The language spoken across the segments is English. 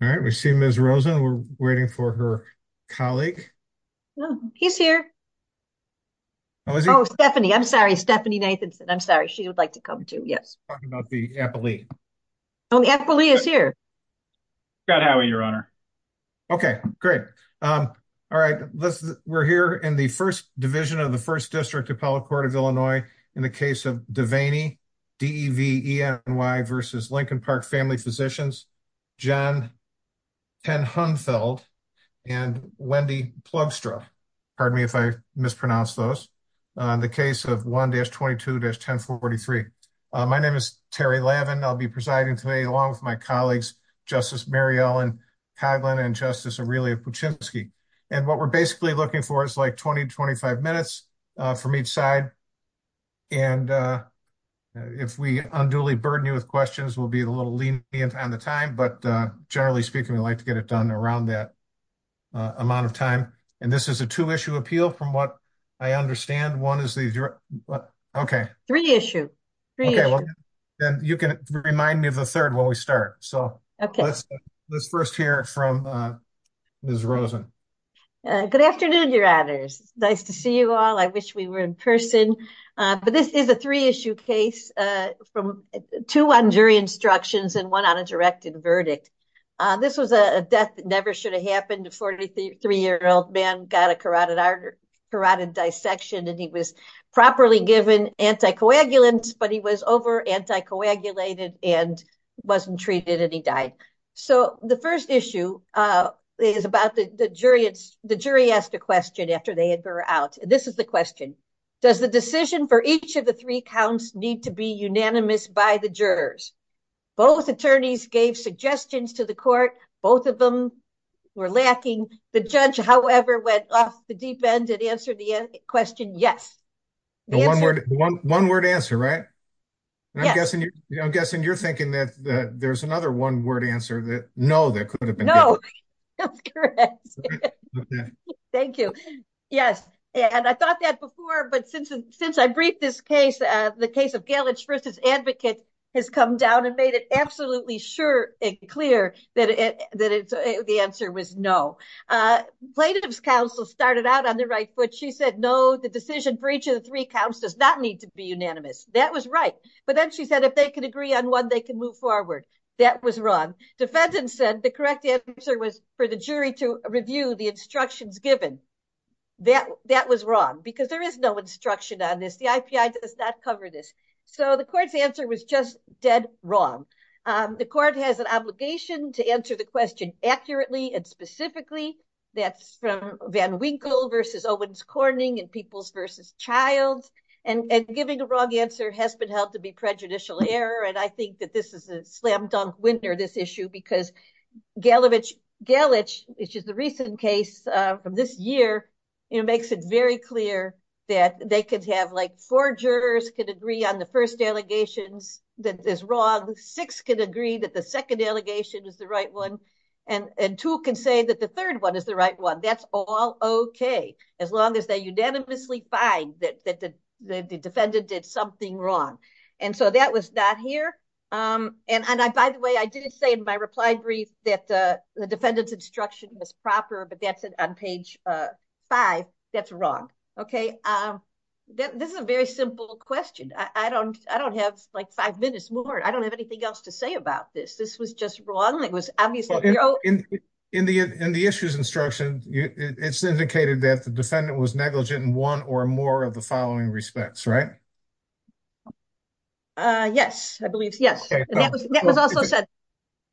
All right, we see Ms. Rosen. We're waiting for her colleague. He's here. Oh, Stephanie. I'm sorry. Stephanie Nathanson. I'm sorry. She would like to come, too. Yes. We're talking about the appellee. Oh, the appellee is here. Scott Howie, Your Honor. Okay, great. All right. We're here in the First Division of the First District Appellate Court of Illinois in the case of Deveny v. Lincoln Park Family Physicians. John Tenhunfeld and Wendy Plugstra. Pardon me if I mispronounce those. In the case of 1-22-1043. My name is Terry Lavin. I'll be presiding today along with my colleagues, Justice Mary Ellen Hagelin and Justice Aurelia Puchinski. And what we're basically looking for is like 20 to 25 minutes from each side. And if we unduly burden you with questions, we'll be a little lenient on the time. But generally speaking, we like to get it done around that amount of time. And this is a two-issue appeal from what I understand. One is the... Okay. Three-issue. Three-issue. Then you can remind me of the third when we start. So let's first hear from Ms. Rosen. Good afternoon, Your Honors. Nice to see you all. I wish we were in person. But this is a three-issue case from two on jury instructions and one on a directed verdict. This was a death that never should have happened. A 43-year-old man got a carotid dissection and he was properly given anticoagulants, but he was over-anticoagulated and wasn't treated and he died. So the first issue is about the jury. The jury asked a for each of the three counts need to be unanimous by the jurors. Both attorneys gave suggestions to the court. Both of them were lacking. The judge, however, went off the deep end and answered the question, yes. The one-word answer, right? I'm guessing you're thinking that there's another one-word answer that no, that could have been. No, that's correct. Thank you. Yes. And I thought that before, but since I briefed this case, the case of Gellich versus advocate has come down and made it absolutely sure and clear that the answer was no. Plaintiff's counsel started out on the right foot. She said, no, the decision for each of the three counts does not need to be unanimous. That was right. But then she said, if they can agree on one, they can move forward. That was wrong. Defendants said the correct answer was for the jury to review the instructions given. That was wrong, because there is no instruction on this. The IPI does not cover this. So the court's answer was just dead wrong. The court has an obligation to answer the question accurately and specifically. That's from Van Winkle versus Owens Corning and Peoples versus Childs. And giving a wrong answer has been held to be prejudicial error. And I think that this is a makes it very clear that they could have like four jurors could agree on the first allegations that is wrong. Six can agree that the second allegation is the right one. And two can say that the third one is the right one. That's all OK, as long as they unanimously find that the defendant did something wrong. And so that was not here. And by the way, I did say in my reply brief that the defendant's instruction was proper, but that's it on page five. That's wrong. OK, this is a very simple question. I don't I don't have like five minutes more. I don't have anything else to say about this. This was just wrong. It was obvious in the in the issues instruction. It's indicated that the defendant was negligent in one or more of the following respects, right? Yes, I believe. Yes, that was also said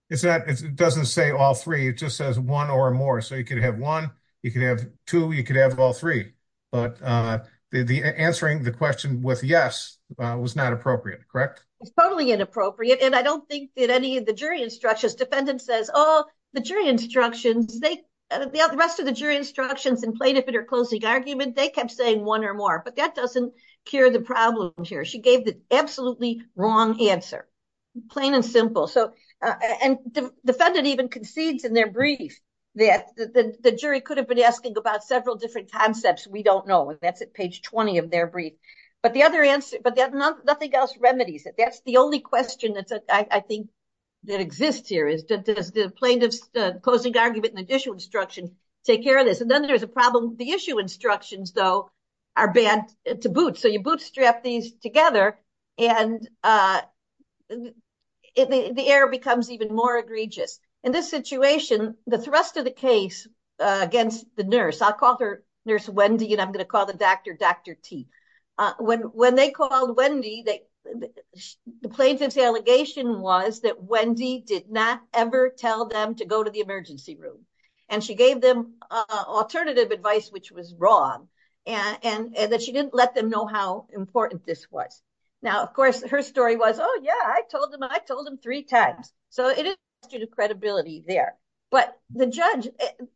is that it doesn't say all three. It just says one or more. So you could have one. You could have two. You could have all three. But the answering the question with yes was not appropriate, correct? It's totally inappropriate. And I don't think that any of the jury instructions defendant says all the jury instructions they the rest of the jury instructions in plaintiff interclosing argument, they kept saying one or more. But that doesn't cure the problem here. She gave the absolutely wrong answer, plain and simple. So and the defendant even concedes in their brief that the jury could have been asking about several different concepts. We don't know if that's at page 20 of their brief. But the other answer, but nothing else remedies it. That's the only question that I think that exists here is that the plaintiff's closing argument and the issue instruction take care of this. And then there's a problem. The issue instructions, though, are bad to boot. So you bootstrap these together, and the error becomes even more egregious. In this situation, the thrust of the case against the nurse, I'll call her nurse, Wendy, and I'm going to call the doctor, Dr. T. When they called Wendy, the plaintiff's allegation was that Wendy did not ever tell them go to the emergency room. And she gave them alternative advice, which was wrong. And that she didn't let them know how important this was. Now, of course, her story was, oh, yeah, I told them, I told them three times. So it is due to credibility there. But the judge,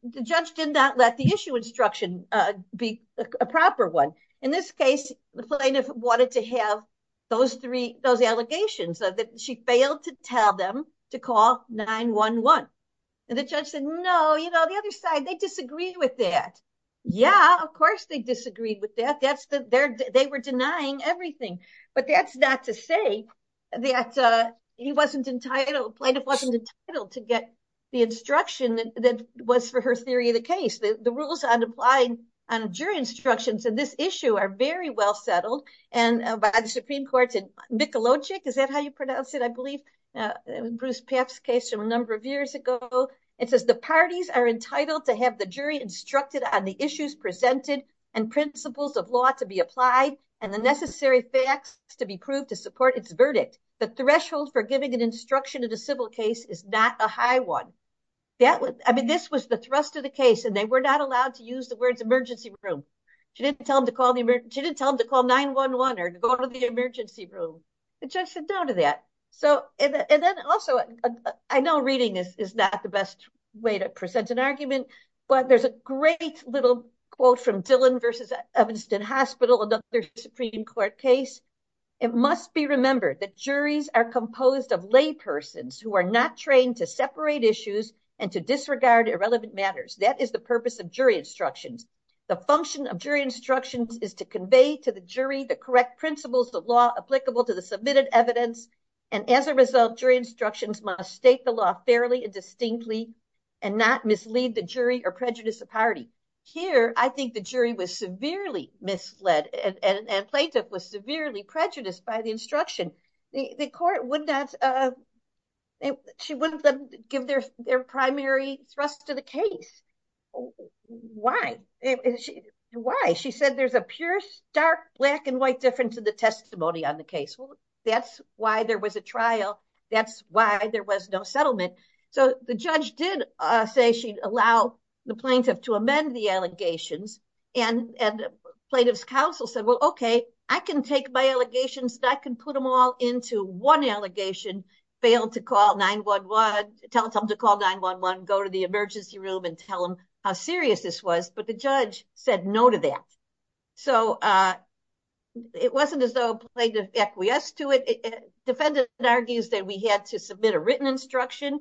the judge did not let the issue instruction be a proper one. In this case, the plaintiff wanted to have those allegations that she failed to tell them to call 911. And the judge said, No, you know, the other side, they disagree with that. Yeah, of course, they disagreed with that. That's the they're, they were denying everything. But that's not to say that he wasn't entitled plaintiff wasn't entitled to get the instruction that was for her theory of the case that the rules on applying on jury instructions in this issue are very well settled. And by the Supreme Court in Mikulovic, is that how you pronounce it? I believe Bruce Papp's case from a number of years ago, it says the parties are entitled to have the jury instructed on the issues presented and principles of law to be applied and the necessary facts to be proved to support its verdict. The threshold for giving an instruction in a civil case is not a high one. That was I mean, the case and they were not allowed to use the words emergency room. She didn't tell him to call the emergency didn't tell him to call 911 or go to the emergency room. The judge said no to that. So and then also, I know reading this is not the best way to present an argument. But there's a great little quote from Dylan versus Evanston Hospital, another Supreme Court case. It must be remembered that juries are composed of lay persons who are not trained to separate issues and to disregard irrelevant matters. That is the purpose of jury instructions. The function of jury instructions is to convey to the jury the correct principles of law applicable to the submitted evidence. And as a result, jury instructions must state the law fairly and distinctly and not mislead the jury or prejudice the party. Here, I think the jury was severely misled and plaintiff was severely prejudiced by the instruction. The court would not and she wouldn't give their their primary thrust to the case. Why? Why? She said there's a pure, dark, black and white difference in the testimony on the case. That's why there was a trial. That's why there was no settlement. So the judge did say she'd allow the plaintiff to amend the allegations. And plaintiff's counsel said, well, okay, I can take my allegations that can put them all into one allegation, fail to call 9-1-1, tell them to call 9-1-1, go to the emergency room and tell them how serious this was. But the judge said no to that. So it wasn't as though plaintiff acquiesced to it. Defendant argues that we had to submit a written instruction.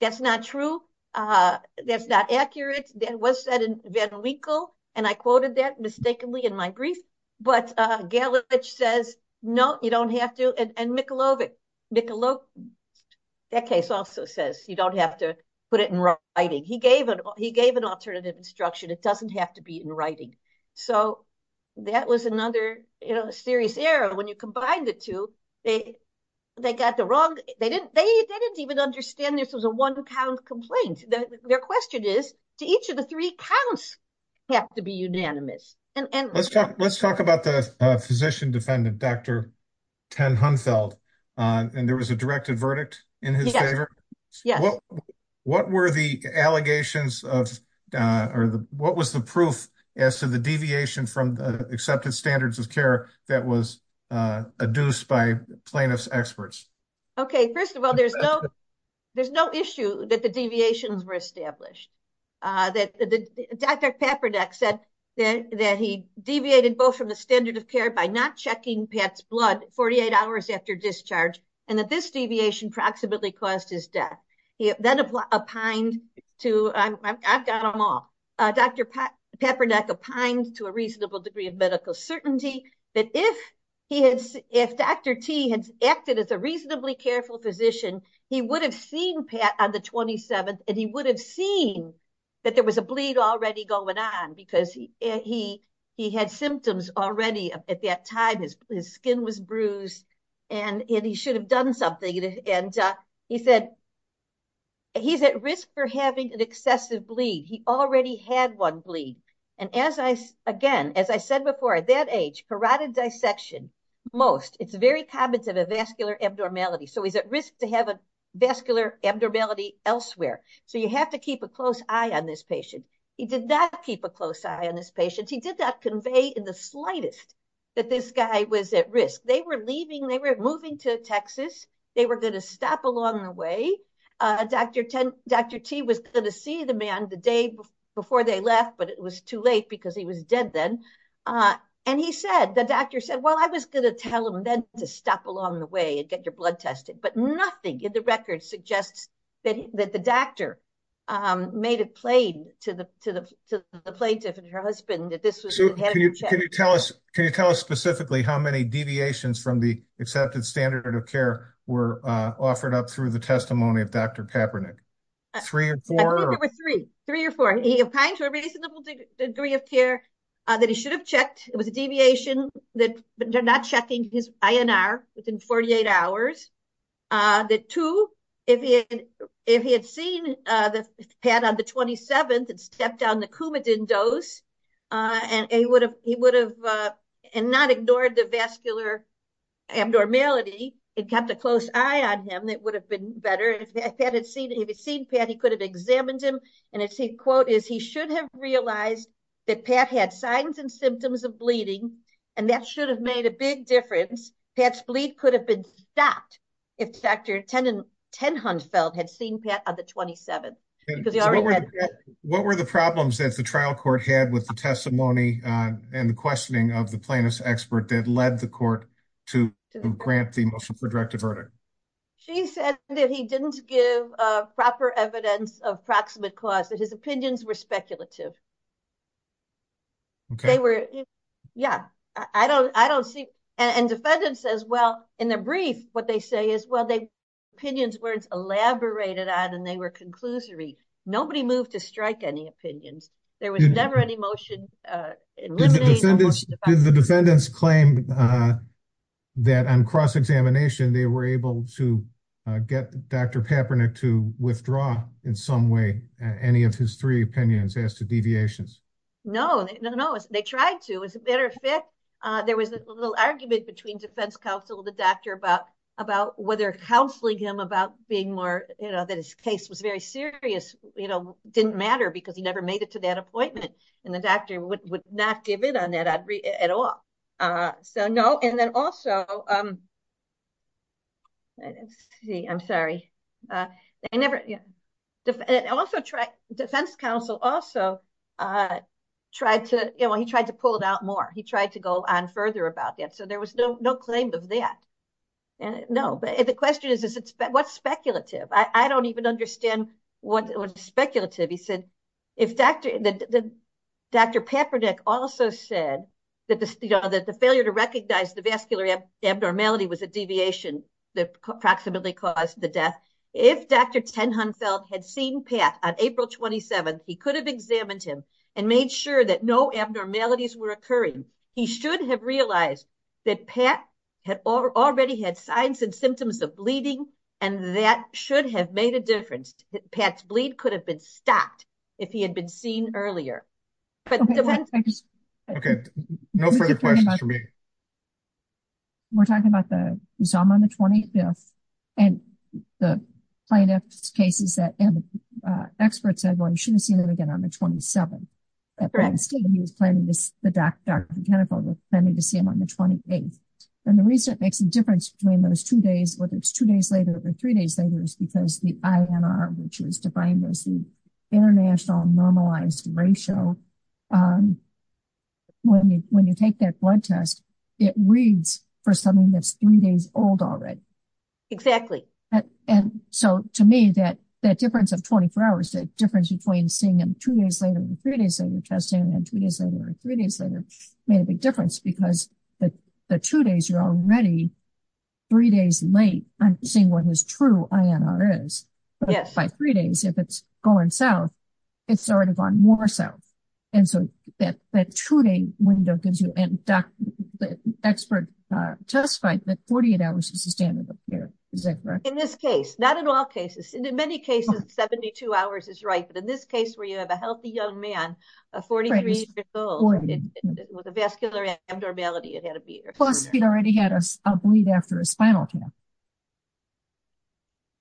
That's not true. That's not accurate. That was said in Van Winkle. And I quoted that mistakenly in my brief. But Galovich says, no, you don't have to. And Mikulovic, that case also says you don't have to put it in writing. He gave an alternative instruction. It doesn't have to be in writing. So that was another serious error. When you combine the two, they got the wrong, they didn't even understand this was a one-count complaint. Their question is, do each of the three counts have to be unanimous? Let's talk about the physician defendant, Dr. Ten Hunfeld. And there was a directed verdict in his favor. What were the allegations of, what was the proof as to the deviation from the accepted standards of care that was adduced by plaintiff's experts? Okay, first of all, there's no issue that the deviations were said that he deviated both from the standard of care by not checking Pat's blood 48 hours after discharge, and that this deviation approximately caused his death. He then opined to, I've got them all, Dr. Papernak opined to a reasonable degree of medical certainty that if he had, if Dr. T had acted as a reasonably careful physician, he would have seen Pat on the 27th, he would have seen that there was a bleed already going on because he had symptoms already at that time, his skin was bruised, and he should have done something. And he said, he's at risk for having an excessive bleed. He already had one bleed. And as I again, as I said before, at that age, carotid dissection, most, it's very common to have a vascular abnormality. So he's at risk to have a vascular abnormality elsewhere. So you have to keep a close eye on this patient. He did not keep a close eye on this patient. He did not convey in the slightest that this guy was at risk. They were leaving, they were moving to Texas, they were going to stop along the way. Dr. T was going to see the man the day before they left, but it was too late because he was dead then. And he said, the doctor said, well, I was going to tell him then to stop along the way and get your blood tested. But nothing in the record suggests that the doctor made it plain to the plaintiff and her husband that this was. Can you tell us specifically how many deviations from the accepted standard of care were offered up through the testimony of Dr. Kaepernick? Three or four? Three or four. He opined to a reasonable degree of care that he should have checked. It was a 48 hours. The two, if he had seen Pat on the 27th and stepped down the Coumadin dose, and he would have not ignored the vascular abnormality and kept a close eye on him, it would have been better. If he had seen Pat, he could have examined him. And his quote is, he should have realized that Pat had signs and symptoms of bleeding, and that should have made a big difference. Pat's bleed could have been stopped if Dr. Tenhunfeld had seen Pat on the 27th. What were the problems that the trial court had with the testimony and the questioning of the plaintiff's expert that led the court to grant the motion for a directive verdict? She said that he didn't give proper evidence of proximate cause, that his opinions were speculative. Okay. They were, yeah, I don't, I don't see, and defendant says, well, in the brief, what they say is, well, they, opinion's words elaborated on, and they were conclusory. Nobody moved to strike any opinions. There was never any motion, uh, eliminated. Did the defendants claim, uh, that on cross-examination, they were able to get Dr. Kaepernick to withdraw in some way, any of his three opinions as to deviations? No, no, no. They tried to, as a matter of fact, uh, there was a little argument between defense counsel and the doctor about, about whether counseling him about being more, you know, that his case was very serious, you know, didn't matter because he never made it to that appointment. And the doctor would not give in on that at all. Uh, so no. And then also, um, let's see, I'm sorry. Uh, I never, yeah. I also try, defense counsel also, uh, tried to, you know, he tried to pull it out more. He tried to go on further about that. So there was no, no claim of that. And no, but the question is, is it, what's speculative? I don't even understand what was speculative. He said, if Dr., Dr. Kaepernick also said that the, you know, that the failure to recognize the vascular abnormality was a deviation that approximately caused the death. If Dr. Tenhunfelt had seen Pat on April 27th, he could have examined him and made sure that no abnormalities were occurring. He should have realized that Pat had already had signs and symptoms of bleeding, and that should have made a difference. Pat's bleed could have been stopped if he had been seen earlier. Okay. No further questions for me. We're talking about the, you saw him on the 25th, and the plaintiff's case is that experts said, well, you shouldn't have seen him again on the 27th. He was planning this, the Dr. Tenhunfelt was planning to see him on the 28th. And the reason it makes a difference between those two days, whether it's two days later or three days later, is because the INR, which is defined as the international normalized ratio, when you take that blood test, it reads for something that's three days old already. Exactly. And so, to me, that difference of 24 hours, the difference between seeing him two days later or three days later, testing him two days later or three days later, made a big difference because the two days, you're already three days late on what his true INR is. But by three days, if it's going south, it's already gone more south. And so, that two day window gives you, and the expert testified that 48 hours is the standard of care. Is that correct? In this case, not in all cases. In many cases, 72 hours is right. But in this case, where you have a healthy young man, 43 years old, with a vascular abnormality, it had to be. Plus, he'd already had a bleed after a spinal cancer.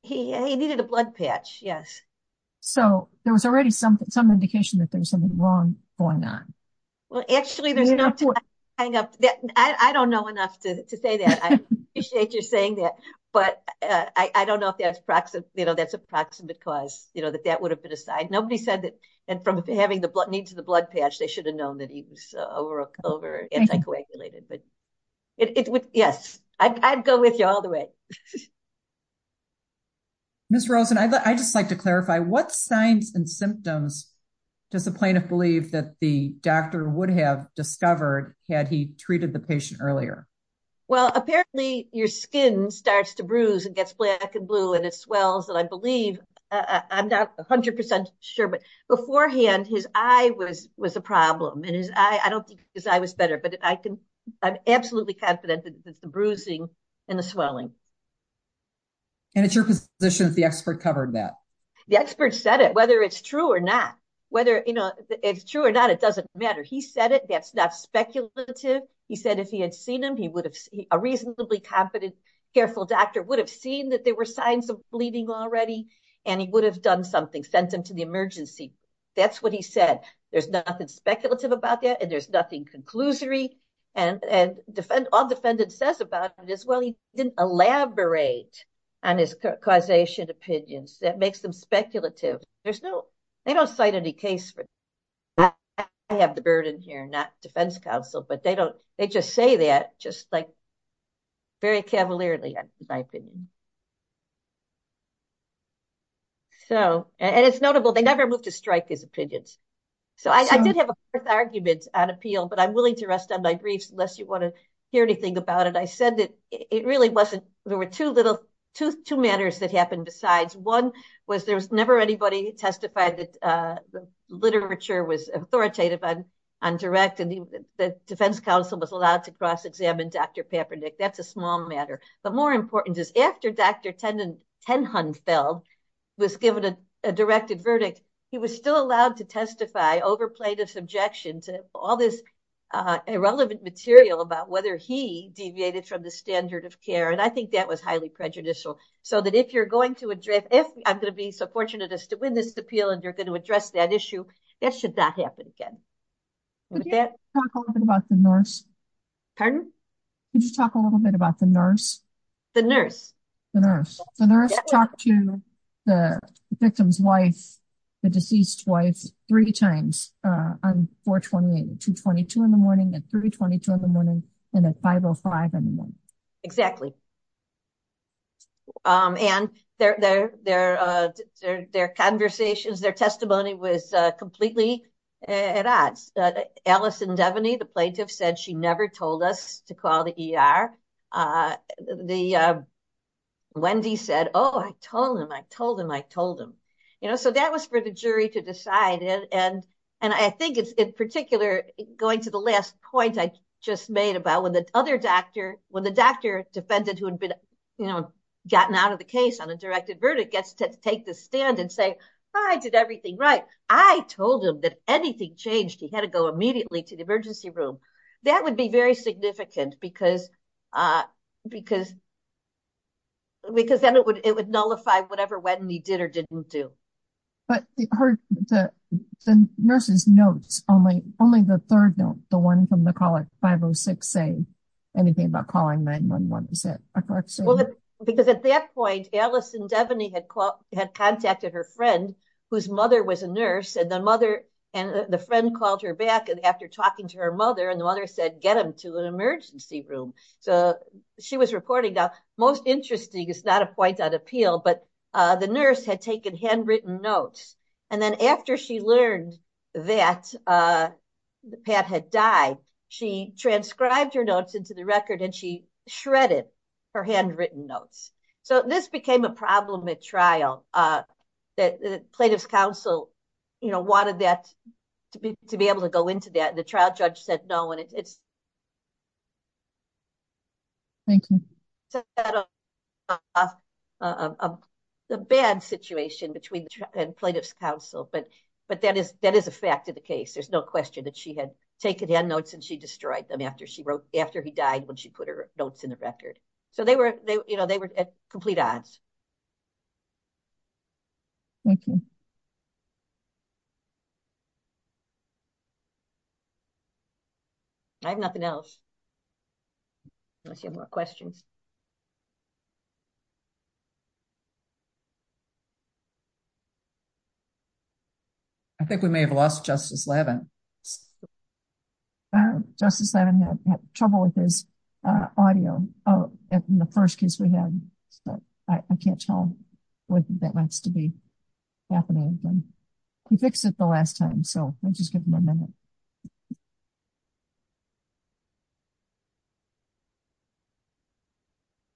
He needed a blood patch, yes. So, there was already some indication that there was something wrong going on. Well, actually, there's enough to hang up. I don't know enough to say that. I appreciate you saying that. But I don't know if that's a proximate cause, that that would have been a sign. Nobody said that. And from having the blood needs of the blood patch, they should have known that he was over anticoagulated. But yes, I'd go with you all the way. Ms. Rosen, I'd just like to clarify, what signs and symptoms does the plaintiff believe that the doctor would have discovered had he treated the patient earlier? Well, apparently, your skin starts to bruise and gets black and blue, and it swells. And I believe, I'm not 100% sure, but beforehand, his eye was a problem. And I don't think his eye was better, but I'm absolutely confident that it's the bruising and the swelling. And it's your position that the expert covered that? The expert said it, whether it's true or not. Whether it's true or not, it doesn't matter. He said it. That's not speculative. He said if he had seen him, a reasonably competent, careful doctor would have seen that there were signs of bleeding already, and he would have done something, sent him to the emergency. That's what he said. There's nothing speculative about that, and there's nothing conclusory. And all the defendant says about it is, well, he didn't elaborate on his causation opinions. That makes them speculative. They don't cite any case for that. I have the very cavalierly, in my opinion. So, and it's notable, they never moved to strike his opinions. So, I did have arguments on appeal, but I'm willing to rest on my griefs unless you want to hear anything about it. I said that it really wasn't, there were two little, two matters that happened besides. One was, there was never anybody testified that the literature was authoritative on direct, the defense counsel was allowed to cross-examine Dr. Papernik. That's a small matter, but more important is after Dr. Tenhunfeld was given a directed verdict, he was still allowed to testify over plaintiff's objections and all this irrelevant material about whether he deviated from the standard of care. And I think that was highly prejudicial. So that if you're going to address, if I'm going to be so fortunate as to win this appeal and you're going to address that issue, that should not happen again. Could you talk a little bit about the nurse? Pardon? Could you talk a little bit about the nurse? The nurse. The nurse. The nurse talked to the victim's wife, the deceased wife, three times on 4-28, 2-22 in the morning, at 3-22 in the morning, and at 5-05 in the morning. Exactly. And their conversations, their testimony was completely at odds. Allison Devaney, the plaintiff said she never told us to call the ER. Wendy said, oh, I told him, I told him, I told him. So that was for the jury to decide. And I think it's in particular, going to the last point I just made about when the other doctor, when the doctor defendant who had been, you know, gotten out of the case on a directed verdict gets to take the stand and say, I did everything right. I told him that anything changed, he had to go immediately to the emergency room. That would be very significant because then it would nullify whatever Wendy did or didn't do. But the nurse's notes, only the third note, the one from the call at 5-06 say anything about calling 9-1-1. Is that correct? Because at that point, Allison Devaney had contacted her friend, whose mother was a nurse, and the mother and the friend called her back after talking to her mother, and the mother said, get him to an emergency room. So she was reporting that. Most interesting, it's not a point on appeal, but the nurse had taken handwritten notes. And then after she learned that Pat had died, she transcribed her notes into the record and she shredded her handwritten notes. So this became a problem at trial. The Plaintiff's Council, you know, wanted that to be able to go into that. The trial judge said no, and it's a bad situation between the Plaintiff's Council, but that is a fact of the case. There's no question that she had taken hand notes and she destroyed them after he died when she put her notes in the record. So they were at complete odds. Thank you. I have nothing else. Unless you have more questions. I think we may have lost Justice Lavin. Justice Lavin had trouble with his audio in the first case we had. I can't tell what that happened to him. He fixed it the last time. So I'll just give him a minute.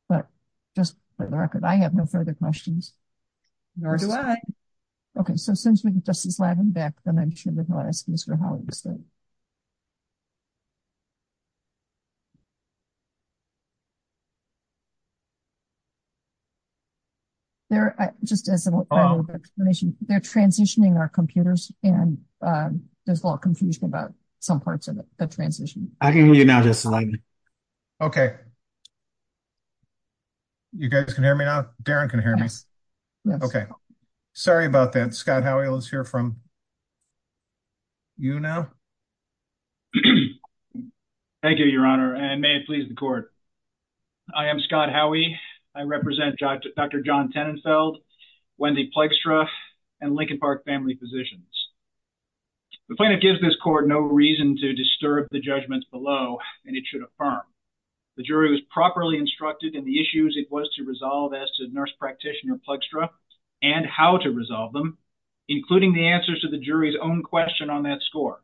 But just for the record, I have no further questions. Nor do I. Okay. So since we have Justice Lavin back, then I'm sure we'll ask Mr. Hollingsley. Just as an explanation, they're transitioning our computers, and there's a lot of confusion about some parts of the transition. I can hear you now, Justice Lavin. Okay. You guys can hear me now? Darren can hear me? Yes. Okay. Sorry about that. Scott Howell is here from UNO. Thank you, Your Honor, and may it please the court. I am Scott Howey. I represent Dr. John Tenenfeld, Wendy Plextra, and Linkin Park family physicians. The plaintiff gives this court no reason to disturb the judgments below, and it should affirm. The jury was properly instructed in the issues it was to resolve as to Nurse Practitioner Plextra and how to resolve them, including the answers to the jury's own question on that score,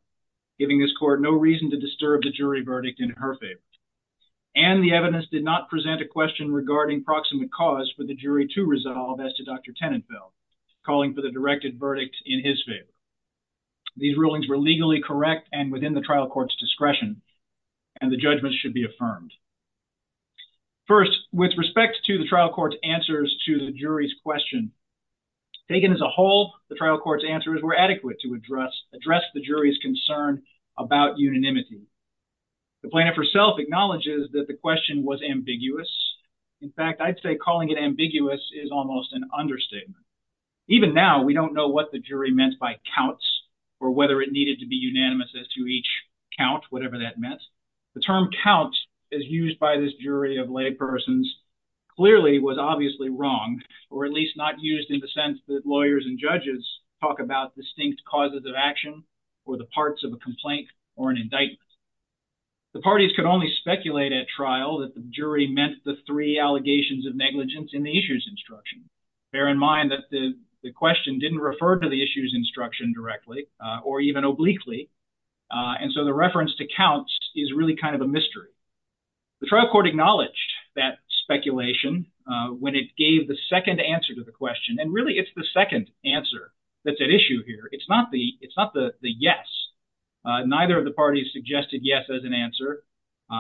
giving this court no reason to disturb the jury verdict in her favor. And the evidence did not present a question regarding proximate cause for the jury to resolve as to Dr. Tenenfeld, calling for the directed verdict in his favor. These rulings were legally correct and within the trial court's discretion, and the judgment should be affirmed. First, with respect to the trial court's answers to the jury's question, taken as a whole, the trial court's answers were adequate to address the jury's concern about unanimity. The plaintiff herself acknowledges that the question was ambiguous. In fact, I'd say calling it ambiguous is almost an understatement. Even now, we don't know what the jury meant by counts or whether it needed to be unanimous as to each count, whatever that meant. The term count, as used by this jury of laypersons, clearly was obviously wrong, or at least not used in the sense that lawyers and judges talk about distinct causes of action or the parts of a complaint or an indictment. The parties could only speculate at trial that the jury meant the three allegations of negligence in the issues instruction. Bear in mind that the question didn't refer to the issues instruction directly or even obliquely, and so the reference to counts is really kind of a mystery. The trial court acknowledged that the jury gave the second answer to the question, and really it's the second answer that's at issue here. It's not the yes. Neither of the parties suggested yes as an answer.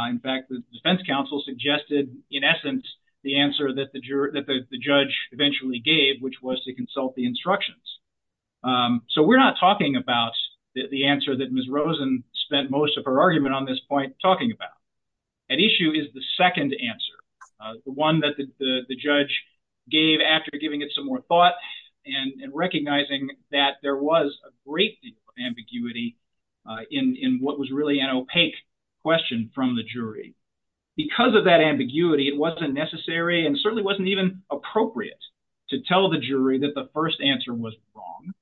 In fact, the defense counsel suggested, in essence, the answer that the judge eventually gave, which was to consult the instructions. So we're not talking about the answer that Ms. Rosen spent most of her argument on this point talking about. At issue is the second answer, the one that the judge gave after giving it some more thought and recognizing that there was a great deal of ambiguity in what was really an opaque question from the jury. Because of that ambiguity, it wasn't necessary and certainly wasn't even appropriate to tell the jury that the first answer was wrong,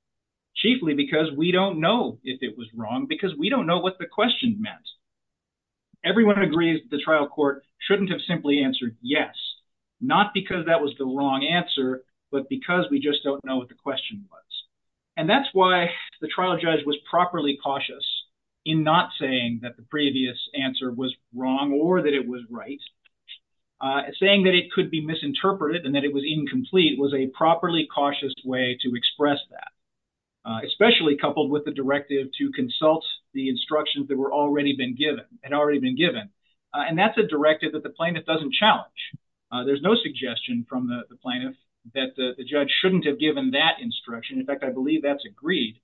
chiefly because we don't know if it was wrong because we don't know what the question meant. Everyone agrees that the trial court shouldn't have simply answered yes, not because that was the wrong answer, but because we just don't know what the question was. And that's why the trial judge was properly cautious in not saying that the previous answer was wrong or that it was right. Saying that it could be misinterpreted and that it was incomplete was a properly cautious way to consult the instructions that had already been given. And that's a directive that the plaintiff doesn't challenge. There's no suggestion from the plaintiff that the judge shouldn't have given that instruction. In fact, I believe that's agreed.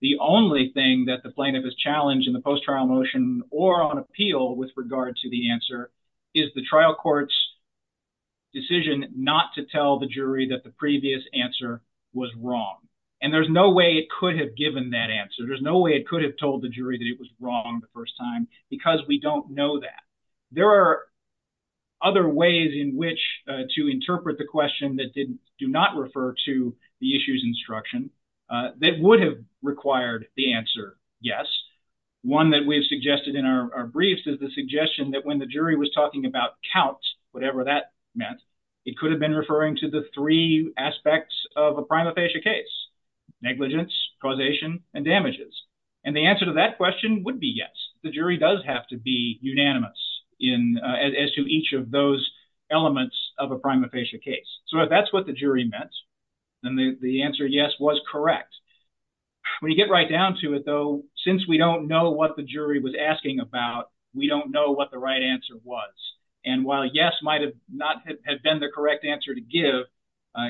The only thing that the plaintiff has challenged in the post-trial motion or on appeal with regard to the answer is the trial court's decision not to tell the jury that the previous answer was wrong. And there's no way it could have given that answer. There's no way it could have told the jury that it was wrong the first time because we don't know that. There are other ways in which to interpret the question that do not refer to the issues instruction that would have required the answer yes. One that we've suggested in our briefs is the suggestion that when the jury was talking about count, whatever that meant, it could have been referring to the three aspects of a prima facie case, negligence, causation, and damages. And the answer to that question would be yes. The jury does have to be unanimous in as to each of those elements of a prima facie case. So if that's what the jury meant, then the answer yes was correct. When you get right down to it though, since we don't know what the jury was asking about, we don't know what the right answer was. And while yes might have not have been the correct answer to give,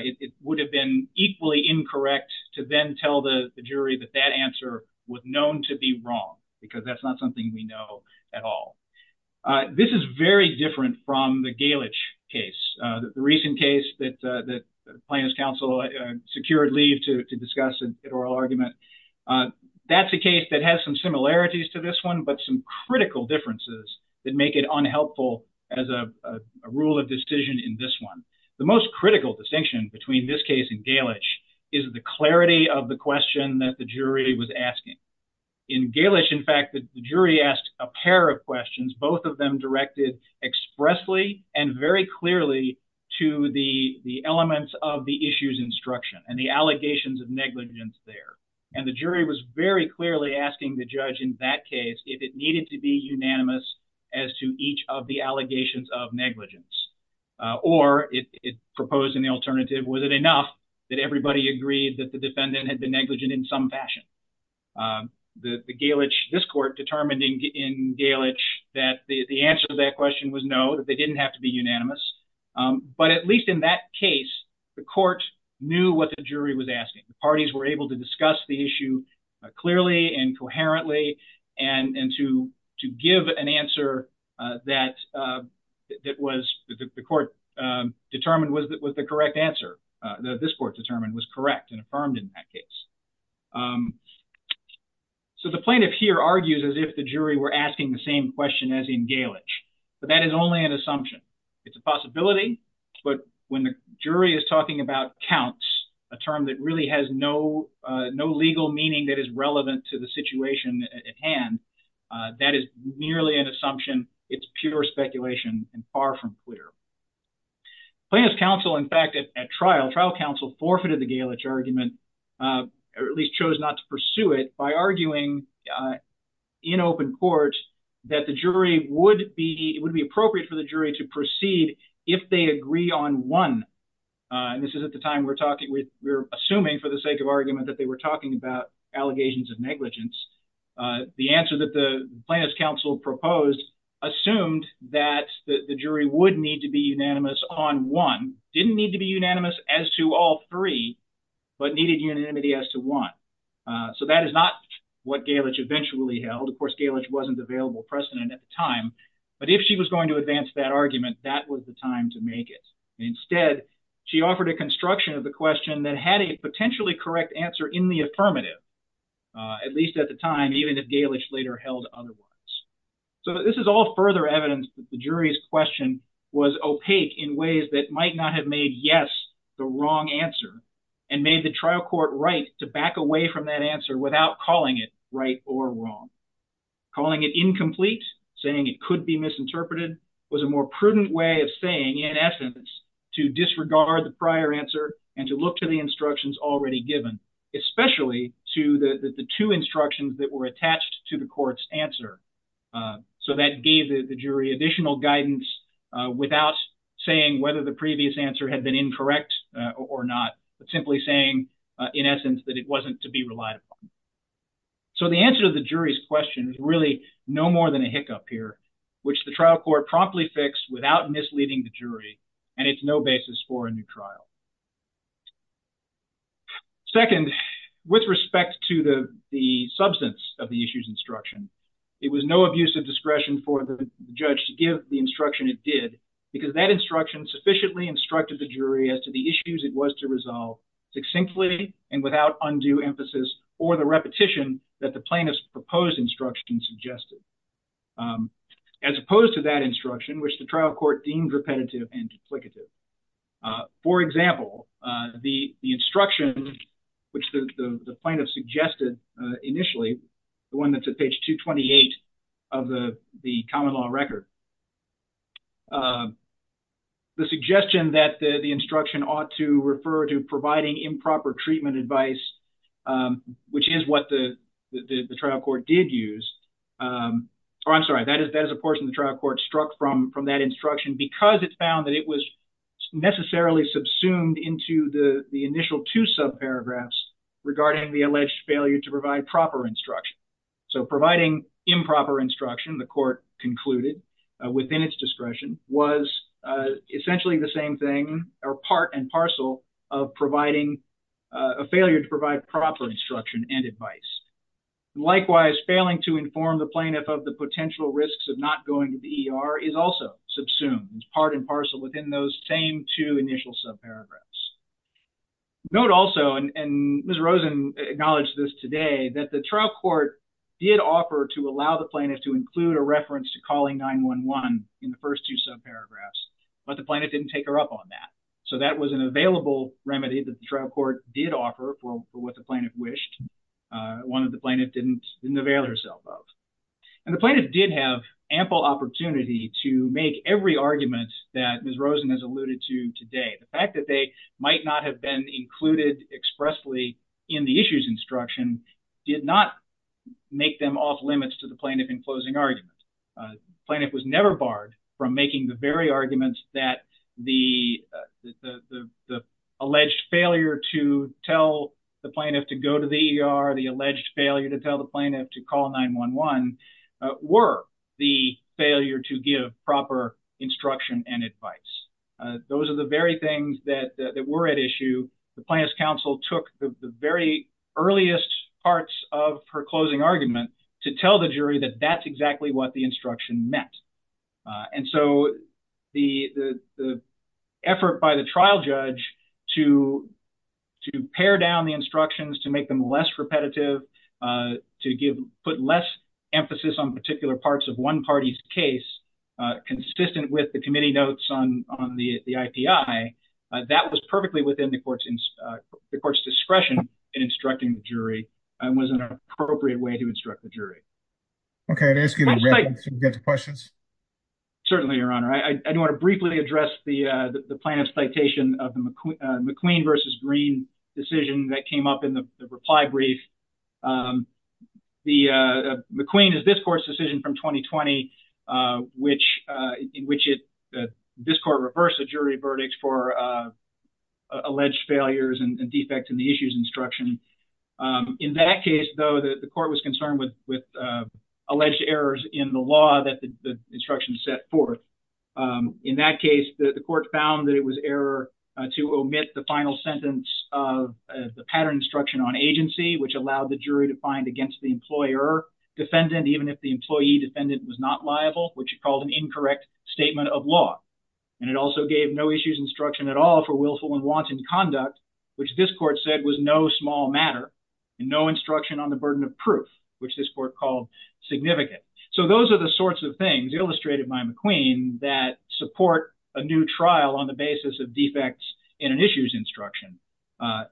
it would have been equally incorrect to then tell the jury that that answer was known to be wrong because that's not something we know at all. This is very different from the Galich case, the recent case that Plaintiff's Council secured leave to discuss an oral argument. That's a case that has some similarities to this but some critical differences that make it unhelpful as a rule of decision in this one. The most critical distinction between this case and Galich is the clarity of the question that the jury was asking. In Galich, in fact, the jury asked a pair of questions, both of them directed expressly and very clearly to the elements of the issues instruction and the allegations of negligence there. And the jury was very clearly asking the judge in that case if it needed to be unanimous as to each of the allegations of negligence. Or it proposed an alternative, was it enough that everybody agreed that the defendant had been negligent in some fashion? The Galich, this court determined in Galich that the answer to that question was no, that they didn't have to be unanimous. But at least in that case, the court knew what the jury was asking. The parties were able to discuss the issue clearly and coherently and to give an answer that was, the court determined was the correct answer, that this court determined was correct and affirmed in that case. So the plaintiff here argues as if the jury were asking the same question as in Galich, but that is only an assumption. It's a possibility, but when the has no legal meaning that is relevant to the situation at hand, that is merely an assumption. It's pure speculation and far from clear. Plaintiff's counsel, in fact, at trial, trial counsel forfeited the Galich argument, or at least chose not to pursue it by arguing in open court that the jury would be, it would be appropriate for the jury to proceed if they agree on one. And this is at the time we're talking, we're assuming for the sake of argument that they were talking about allegations of negligence. The answer that the plaintiff's counsel proposed assumed that the jury would need to be unanimous on one, didn't need to be unanimous as to all three, but needed unanimity as to one. So that is not what Galich eventually held. Of course, Galich wasn't available precedent at the time, but if she was going to advance that was the time to make it. Instead, she offered a construction of the question that had a potentially correct answer in the affirmative, at least at the time, even if Galich later held otherwise. So this is all further evidence that the jury's question was opaque in ways that might not have made yes the wrong answer and made the trial court right to back away from that answer without calling it right or wrong. Calling it incomplete, saying it could be misinterpreted, was a more prudent way of saying in essence to disregard the prior answer and to look to the instructions already given, especially to the two instructions that were attached to the court's answer. So that gave the jury additional guidance without saying whether the previous answer had been incorrect or not, but simply saying in essence that it wasn't to be relied upon. So the answer to the jury's question is really no more than a hiccup here, which the trial court promptly fixed without misleading the jury, and it's no basis for a new trial. Second, with respect to the substance of the issue's instruction, it was no abuse of discretion for the judge to give the instruction it did because that instruction sufficiently instructed the jury as to the issues it was to resolve succinctly and without undue emphasis or the repetition that the plaintiff's proposed instruction suggested, as opposed to that instruction which the trial court deemed repetitive and duplicative. For example, the instruction which the plaintiff suggested initially, the one that's at page 228 of the common law record, the suggestion that the instruction ought to refer to providing improper treatment advice which is what the trial court did use, or I'm sorry, that is a portion the trial court struck from that instruction because it found that it was necessarily subsumed into the initial two subparagraphs regarding the alleged failure to provide proper instruction. So providing improper instruction, the court concluded, within its discretion was essentially the same thing, or part and parcel of providing a failure to provide proper instruction and advice. Likewise, failing to inform the plaintiff of the potential risks of not going to the ER is also subsumed as part and parcel within those same two initial subparagraphs. Note also, and Ms. Rosen acknowledged this today, that the trial court did offer to allow the plaintiff to include a reference to calling 911 in the first two subparagraphs, but the plaintiff didn't take her up on that. So that was an available remedy that the trial court did offer for what the plaintiff wished, one that the plaintiff didn't avail herself of. And the plaintiff did have ample opportunity to make every argument that Ms. Rosen has alluded to today. The fact that they might not have been included expressly in the issues instruction did not make them off limits to the plaintiff in closing arguments. The plaintiff was never barred from making the very arguments that the alleged failure to tell the plaintiff to go to the ER, the alleged failure to tell the plaintiff to call 911, were the failure to give proper instruction and advice. Those are the very things that were at issue. The plaintiff's counsel took the very earliest parts of her closing argument to tell the jury that that's exactly what the instruction meant. And so the effort by the trial judge to pare down the instructions, to make them less repetitive, to put less emphasis on particular parts of one party's case consistent with the committee notes on the IPI, that was perfectly within the court's discretion in instructing the jury and was an appropriate way to instruct the jury. Okay, I'd ask you to wrap up so we can get to questions. Certainly, Your Honor. I do want to briefly address the plaintiff's citation of the McQueen versus Green decision that came up in the reply brief. McQueen is this court's decision from 2020 in which this court reversed the jury verdict for alleged failures and defects in the issues instruction. In that case, though, the court was concerned with alleged errors in the law that the instruction set forth. In that case, the court found that it was error to omit the final sentence of the pattern instruction on agency, which allowed the jury to find against the employer defendant, even if the employee defendant was not liable, which it called an incorrect statement of law. And it also gave no issues instruction at all for willful and wanton conduct, which this court said was no small matter and no instruction on the burden of proof, which this court called significant. So those are the sorts of things illustrated by McQueen that support a new trial on the basis of defects in an issues instruction,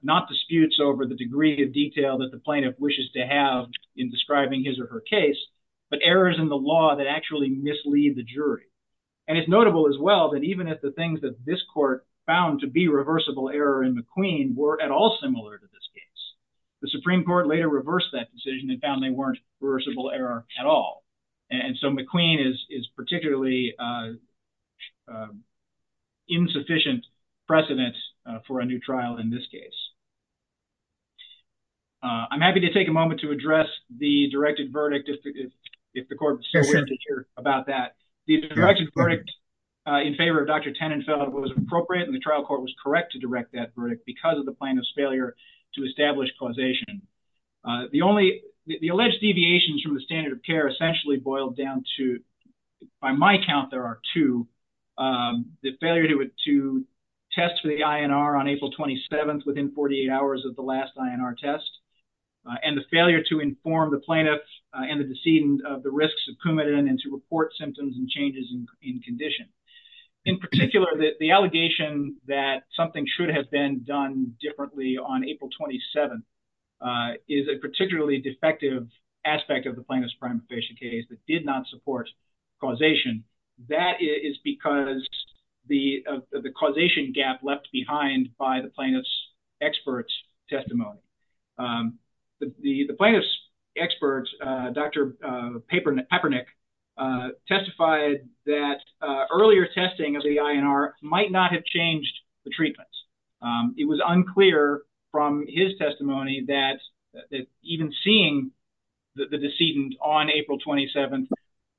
not disputes over the degree of detail that the plaintiff wishes to have in describing his or her case, but errors in the law that actually mislead the jury. And it's notable as well that even if the things that this court found to be reversible error in McQueen were at all similar to this case, the Supreme Court later reversed that decision and found they weren't reversible error at all. And so McQueen is particularly insufficient precedent for a new trial in this case. I'm happy to take a moment to address the directed verdict, if the court is still willing to hear about that. The directed verdict in favor of Dr. Tenenfeld was appropriate and the trial court was correct to direct that verdict because of the plaintiff's failure to establish causation. The only, the alleged deviations from the standard of care essentially boiled down to, by my count there are two, the failure to test for the INR on April 27th within 48 hours of the last INR test, and the failure to inform the plaintiff and the decedent of the risks of symptoms and changes in condition. In particular, the allegation that something should have been done differently on April 27th is a particularly defective aspect of the plaintiff's prima facie case that did not support causation. That is because the causation gap left behind by the expert, Dr. Papernik, testified that earlier testing of the INR might not have changed the treatments. It was unclear from his testimony that even seeing the decedent on April 27th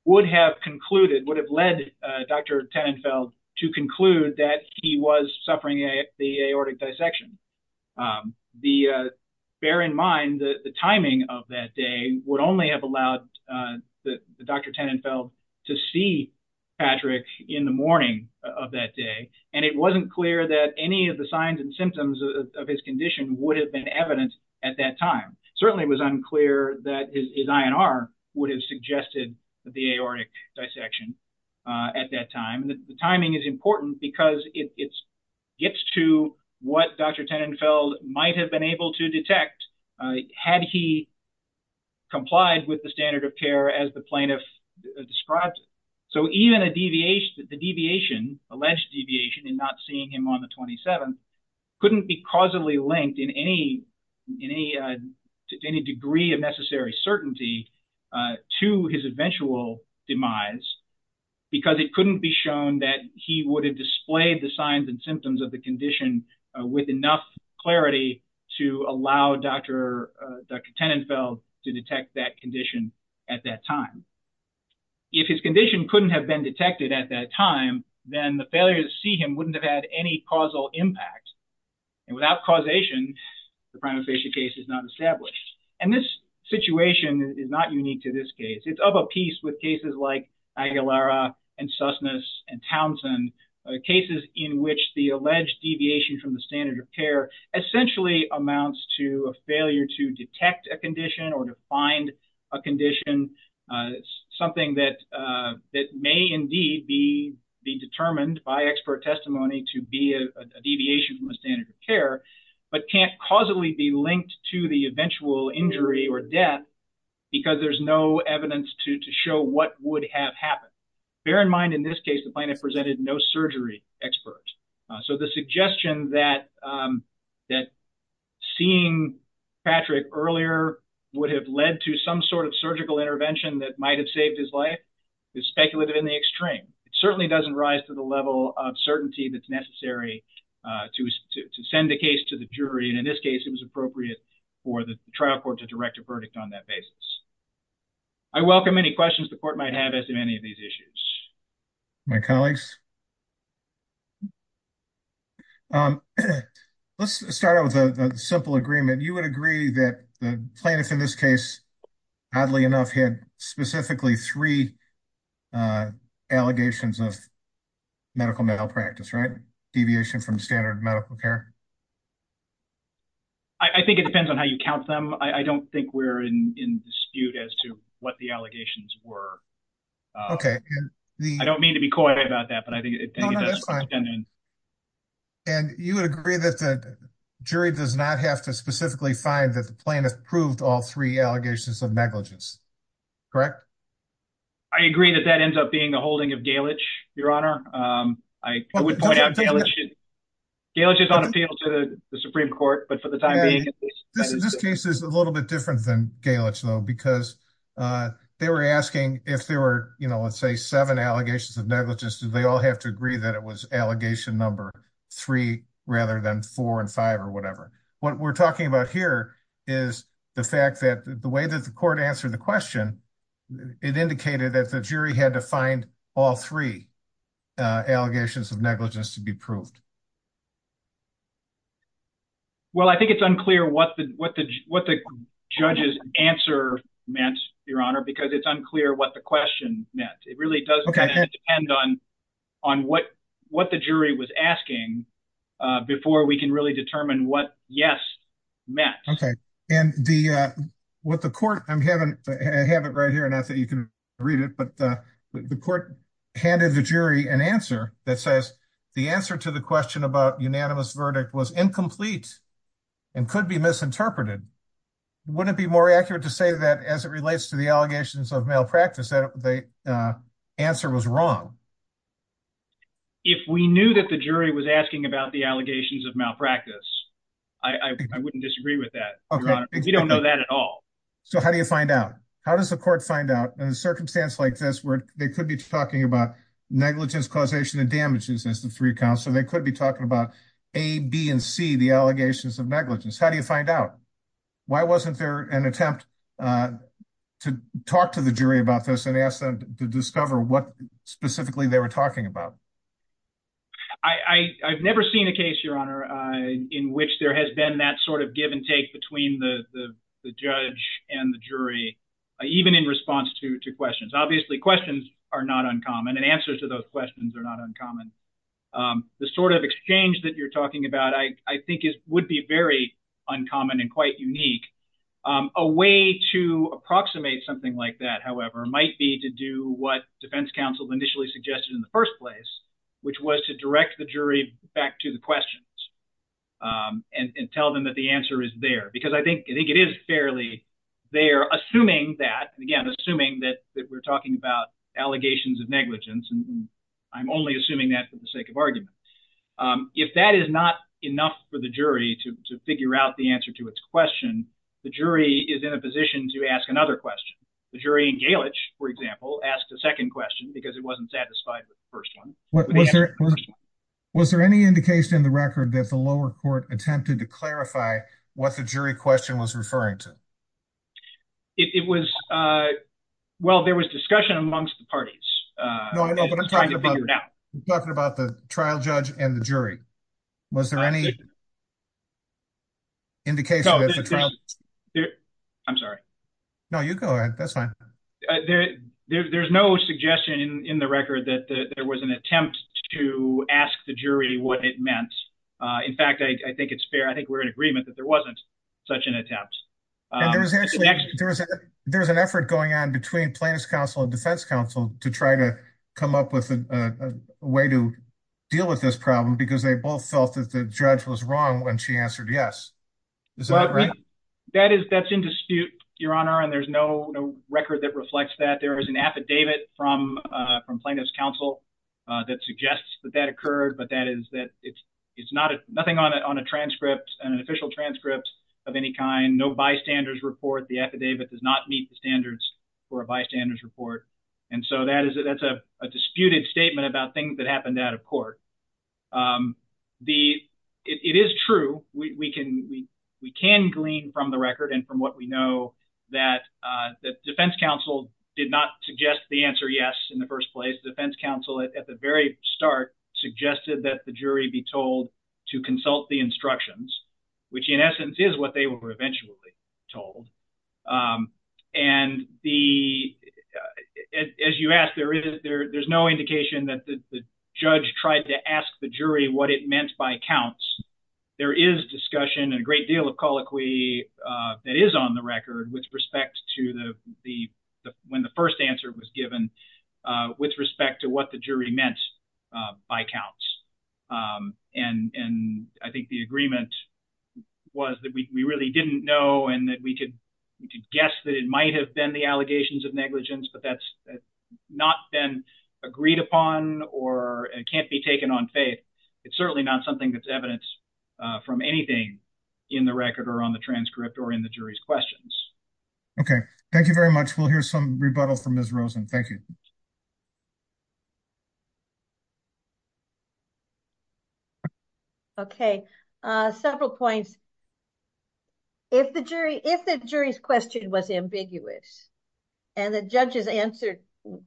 would have concluded, would have led Dr. Tenenfeld to conclude that he was suffering the aortic dissection. Bear in mind that the timing of that day would only have allowed Dr. Tenenfeld to see Patrick in the morning of that day, and it wasn't clear that any of the signs and symptoms of his condition would have been evident at that time. Certainly it was unclear that his INR would have suggested the aortic dissection at that time. The timing is important because it gets to what Dr. Tenenfeld might have been able to detect had he complied with the standard of care as the plaintiff described. So even a deviation, the deviation, alleged deviation in not seeing him on the 27th couldn't be causally linked in any degree of necessary certainty to his eventual demise because it couldn't be shown that he would have displayed the signs and symptoms of the condition with enough clarity to allow Dr. Tenenfeld to detect that condition at that time. If his condition couldn't have been detected at that time, then the failure to see him wouldn't have had any causal impact. And without causation, the prima facie case is not established. And this situation is not unique to this case. It's of a piece with cases like Aguilera and Susness and Townsend, cases in which the alleged deviation from the standard of care essentially amounts to a failure to detect a condition or to find a condition, something that may indeed be determined by expert testimony to be a deviation from the standard of care, but can't causally be linked to the eventual injury or death because there's no evidence to show what would have happened. Bear in mind, in this case, the plaintiff presented no surgery expert. So the suggestion that seeing Patrick earlier would have led to some sort of surgical intervention that might have saved his life is speculative in the to send the case to the jury. And in this case, it was appropriate for the trial court to direct a verdict on that basis. I welcome any questions the court might have as to any of these issues. My colleagues. Let's start out with a simple agreement. You would agree that the plaintiff in this case, oddly enough, had specifically three allegations of medical malpractice, right? Deviation from standard medical care. I think it depends on how you count them. I don't think we're in dispute as to what the allegations were. Okay. I don't mean to be coy about that, but I think and you would agree that the jury does not have to specifically find that the plaintiff proved all three allegations of negligence, correct? I agree that that ends up being the holding of the Supreme Court. But for the time being, this case is a little bit different than Gaelic, though, because they were asking if there were, you know, let's say seven allegations of negligence. Do they all have to agree that it was allegation number three rather than four and five or whatever? What we're talking about here is the fact that the way that the court answered the question, it indicated that the jury had to find all three allegations of negligence to be proved. Well, I think it's unclear what the judge's answer meant, Your Honor, because it's unclear what the question meant. It really does depend on what the jury was asking before we can really determine what yes meant. Okay, and what the court, I have it right here, not that you can read it, but the court handed the jury an answer that says the answer to the question about unanimous verdict was incomplete and could be misinterpreted. Wouldn't it be more accurate to say that as it relates to the allegations of malpractice that the answer was wrong? If we knew that the jury was asking about the allegations of malpractice, I wouldn't disagree with that. We don't know that at all. So how do you find out? How does the court find out in a circumstance like this where they could be talking about negligence, causation, and damages as the three counts, so they could be talking about A, B, and C, the allegations of negligence. How do you find out? Why wasn't there an attempt to talk to the jury about this and ask them to discover what was wrong? I've never seen a case, Your Honor, in which there has been that sort of give and take between the judge and the jury, even in response to questions. Obviously, questions are not uncommon, and answers to those questions are not uncommon. The sort of exchange that you're talking about, I think, would be very uncommon and quite unique. A way to approximate something like that, however, might be to do what defense counsel initially suggested in the first place, which was to direct the jury back to the questions and tell them that the answer is there, because I think it is fairly there, assuming that, again, assuming that we're talking about allegations of negligence, and I'm only assuming that for the sake of argument. If that is not enough for the jury to figure out the answer to its question, the jury is in a position to ask another question. The jury in Galich, for example, asked a second question, because it wasn't satisfied with the first one. Was there any indication in the record that the lower court attempted to clarify what the jury question was referring to? It was, well, there was discussion amongst the parties. No, I know, but I'm talking about the trial judge and the jury. Was there any indication that the trial... I'm sorry. No, you go ahead. That's fine. There's no suggestion in the record that there was an attempt to ask the jury what it meant. In fact, I think it's fair. I think we're in agreement that there wasn't such an attempt. There's an effort going on between plaintiff's counsel and defense counsel to try to come up with a way to deal with this problem, because they both felt that the judge was wrong when she answered yes. Is that right? That's in dispute, Your Honor, and there's no record that reflects that. There is an affidavit from plaintiff's counsel that suggests that that occurred, but that is that it's nothing on a transcript, an official transcript of any kind, no bystanders report. The affidavit does not meet the standards for a bystanders report. And so that's a disputed statement about things that happened out of court. It is true. We can glean from the record and from what we know that defense counsel did not suggest the answer yes in the first place. Defense counsel at the very start suggested that the jury be told to consult the instructions, which in essence is what they were eventually told. And as you asked, there's no indication that the judge tried to ask the jury what it meant by counts. There is discussion and a great deal of colloquy that is on the record with respect to when the first answer was given, with respect to what the jury meant by counts. And I think the agreement was that we really didn't know and that we could guess that it might have been the allegations of negligence, but that's not been agreed upon or can't be taken on faith. It's certainly not something that's evidence from anything in the record or on the transcript or in the jury's questions. Okay. Thank you very much. We'll hear some rebuttal from Ms. Rosen. Thank you. Okay. Several points. If the jury, if the jury's question was ambiguous and the judge's answer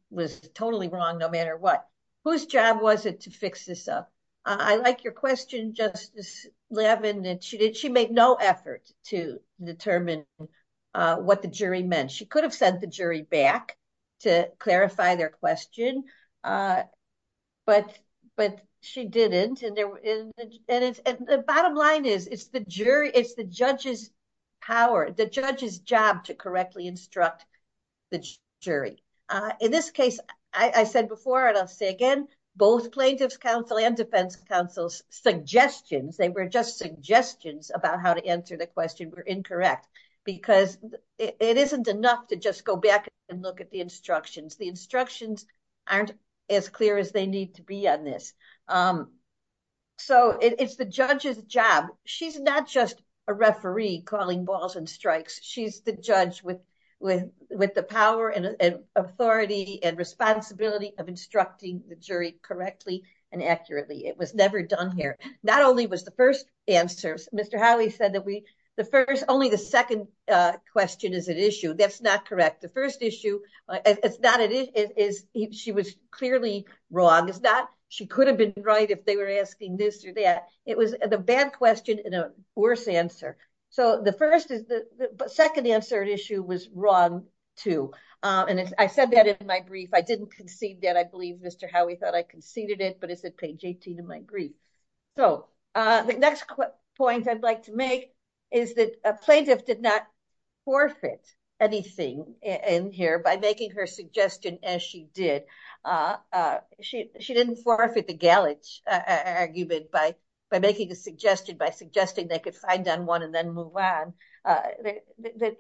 was totally wrong, no matter what, whose job was it to fix this up? I like your question, Justice Levin, that she did. She made no effort to determine what the jury meant. She could have sent the jury back to clarify their question, but she didn't. And the bottom line is, it's the jury, it's the judge's power, the judge's job to correctly instruct the jury. In this case, I said before, and I'll say again, both plaintiff's counsel and defense counsel's suggestions, they were just suggestions about how to answer the question were incorrect because it isn't enough to just go back and look at the instructions. The instructions aren't as clear as they need to be on this. So, it's the judge's job. She's not just a referee calling balls and strikes. She's the judge with the power and authority and responsibility of instructing the jury correctly and accurately. It was never done here. Not only was the first answer, Mr. Howie said that we, the first, only the second question is an issue. That's not correct. The first issue, it's not, she was right if they were asking this or that. It was the bad question and a worse answer. So, the first is, the second answer issue was wrong too. And I said that in my brief. I didn't concede that. I believe Mr. Howie thought I conceded it, but it's at page 18 of my brief. So, the next point I'd like to make is that a plaintiff did not forfeit anything in here by making her suggestion as she did. She didn't forfeit the Gallich argument by making a suggestion, by suggesting they could find on one and then move on. Again,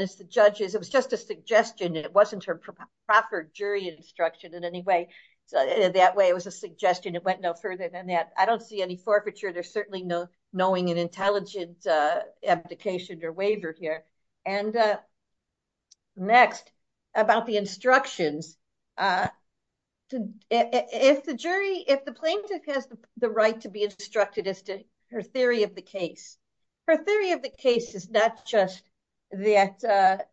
it's the judge's. It was just a suggestion and it wasn't her proper jury instruction in any way. So, that way it was a suggestion. It went no further than that. I don't see any forfeiture. There's certainly no knowing and intelligent application or waiver here. Next, about the instructions. If the jury, if the plaintiff has the right to be instructed as to her theory of the case, her theory of the case is not just that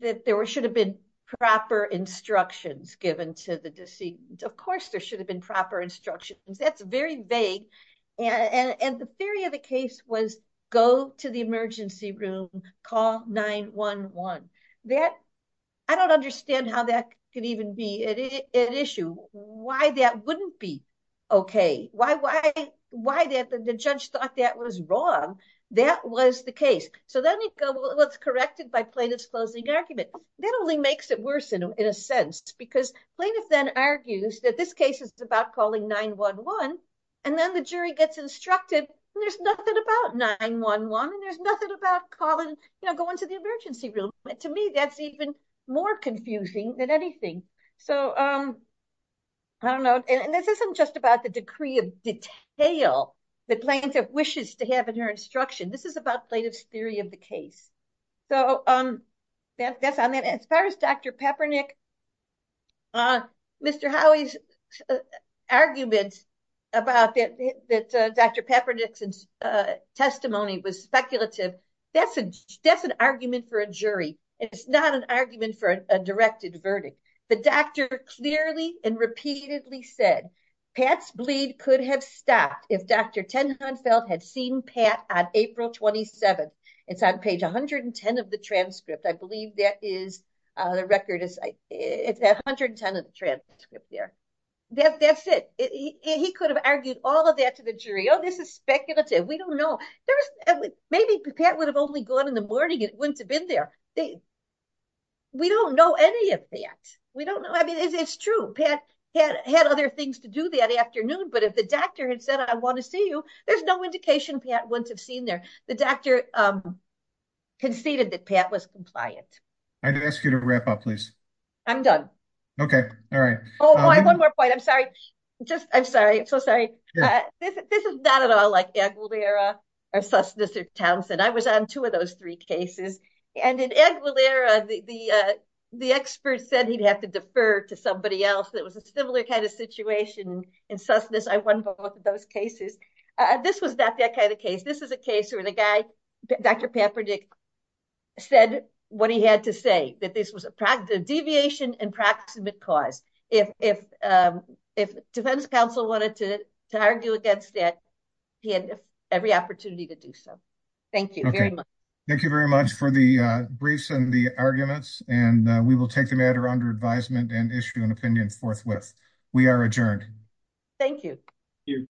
there should have been proper instructions given to the decedent. Of course, there should have been proper instructions. That's very vague and the theory of the case was go to the emergency room, call 911. I don't understand how that can even be an issue. Why that wouldn't be okay? Why the judge thought that was wrong? That was the case. So, then you go, well, it's corrected by plaintiff's closing argument. That only makes it worse in a sense because plaintiff then argues that this and then the jury gets instructed and there's nothing about 911 and there's nothing about calling, you know, going to the emergency room. To me, that's even more confusing than anything. So, I don't know. And this isn't just about the decree of detail that plaintiff wishes to have in her instruction. This is about plaintiff's theory of the case. So, that's on that. As far as Dr. Peppernick, Mr. Howie's arguments about that Dr. Peppernick's testimony was speculative. That's an argument for a jury. It's not an argument for a directed verdict. The doctor clearly and repeatedly said, Pat's bleed could have stopped if Dr. Tenenbaum had seen Pat on the record. It's 110 of the transcript there. That's it. He could have argued all of that to the jury. Oh, this is speculative. We don't know. Maybe Pat would have only gone in the morning and wouldn't have been there. We don't know any of that. We don't know. I mean, it's true. Pat had other things to do that afternoon. But if the doctor had said, I want to see you, there's no indication Pat wouldn't have seen there. The doctor conceded that Pat was compliant. I did ask you to wrap up, please. I'm done. Okay. All right. Oh, one more point. I'm sorry. I'm sorry. I'm so sorry. This is not at all like Aguilera or Susness or Townsend. I was on two of those three cases. And in Aguilera, the expert said he'd have to defer to somebody else. It was a similar kind of situation in Susness. I won both of those cases. This was not that kind of case. This is a case where the guy, Dr. Pamperdick, said what he had to say, that this was a deviation and proximate cause. If defense counsel wanted to argue against that, he had every opportunity to do so. Thank you very much. Okay. Thank you very much for the briefs and the arguments. And we will take the matter under advisement and issue an opinion forthwith. We are adjourned. Thank you.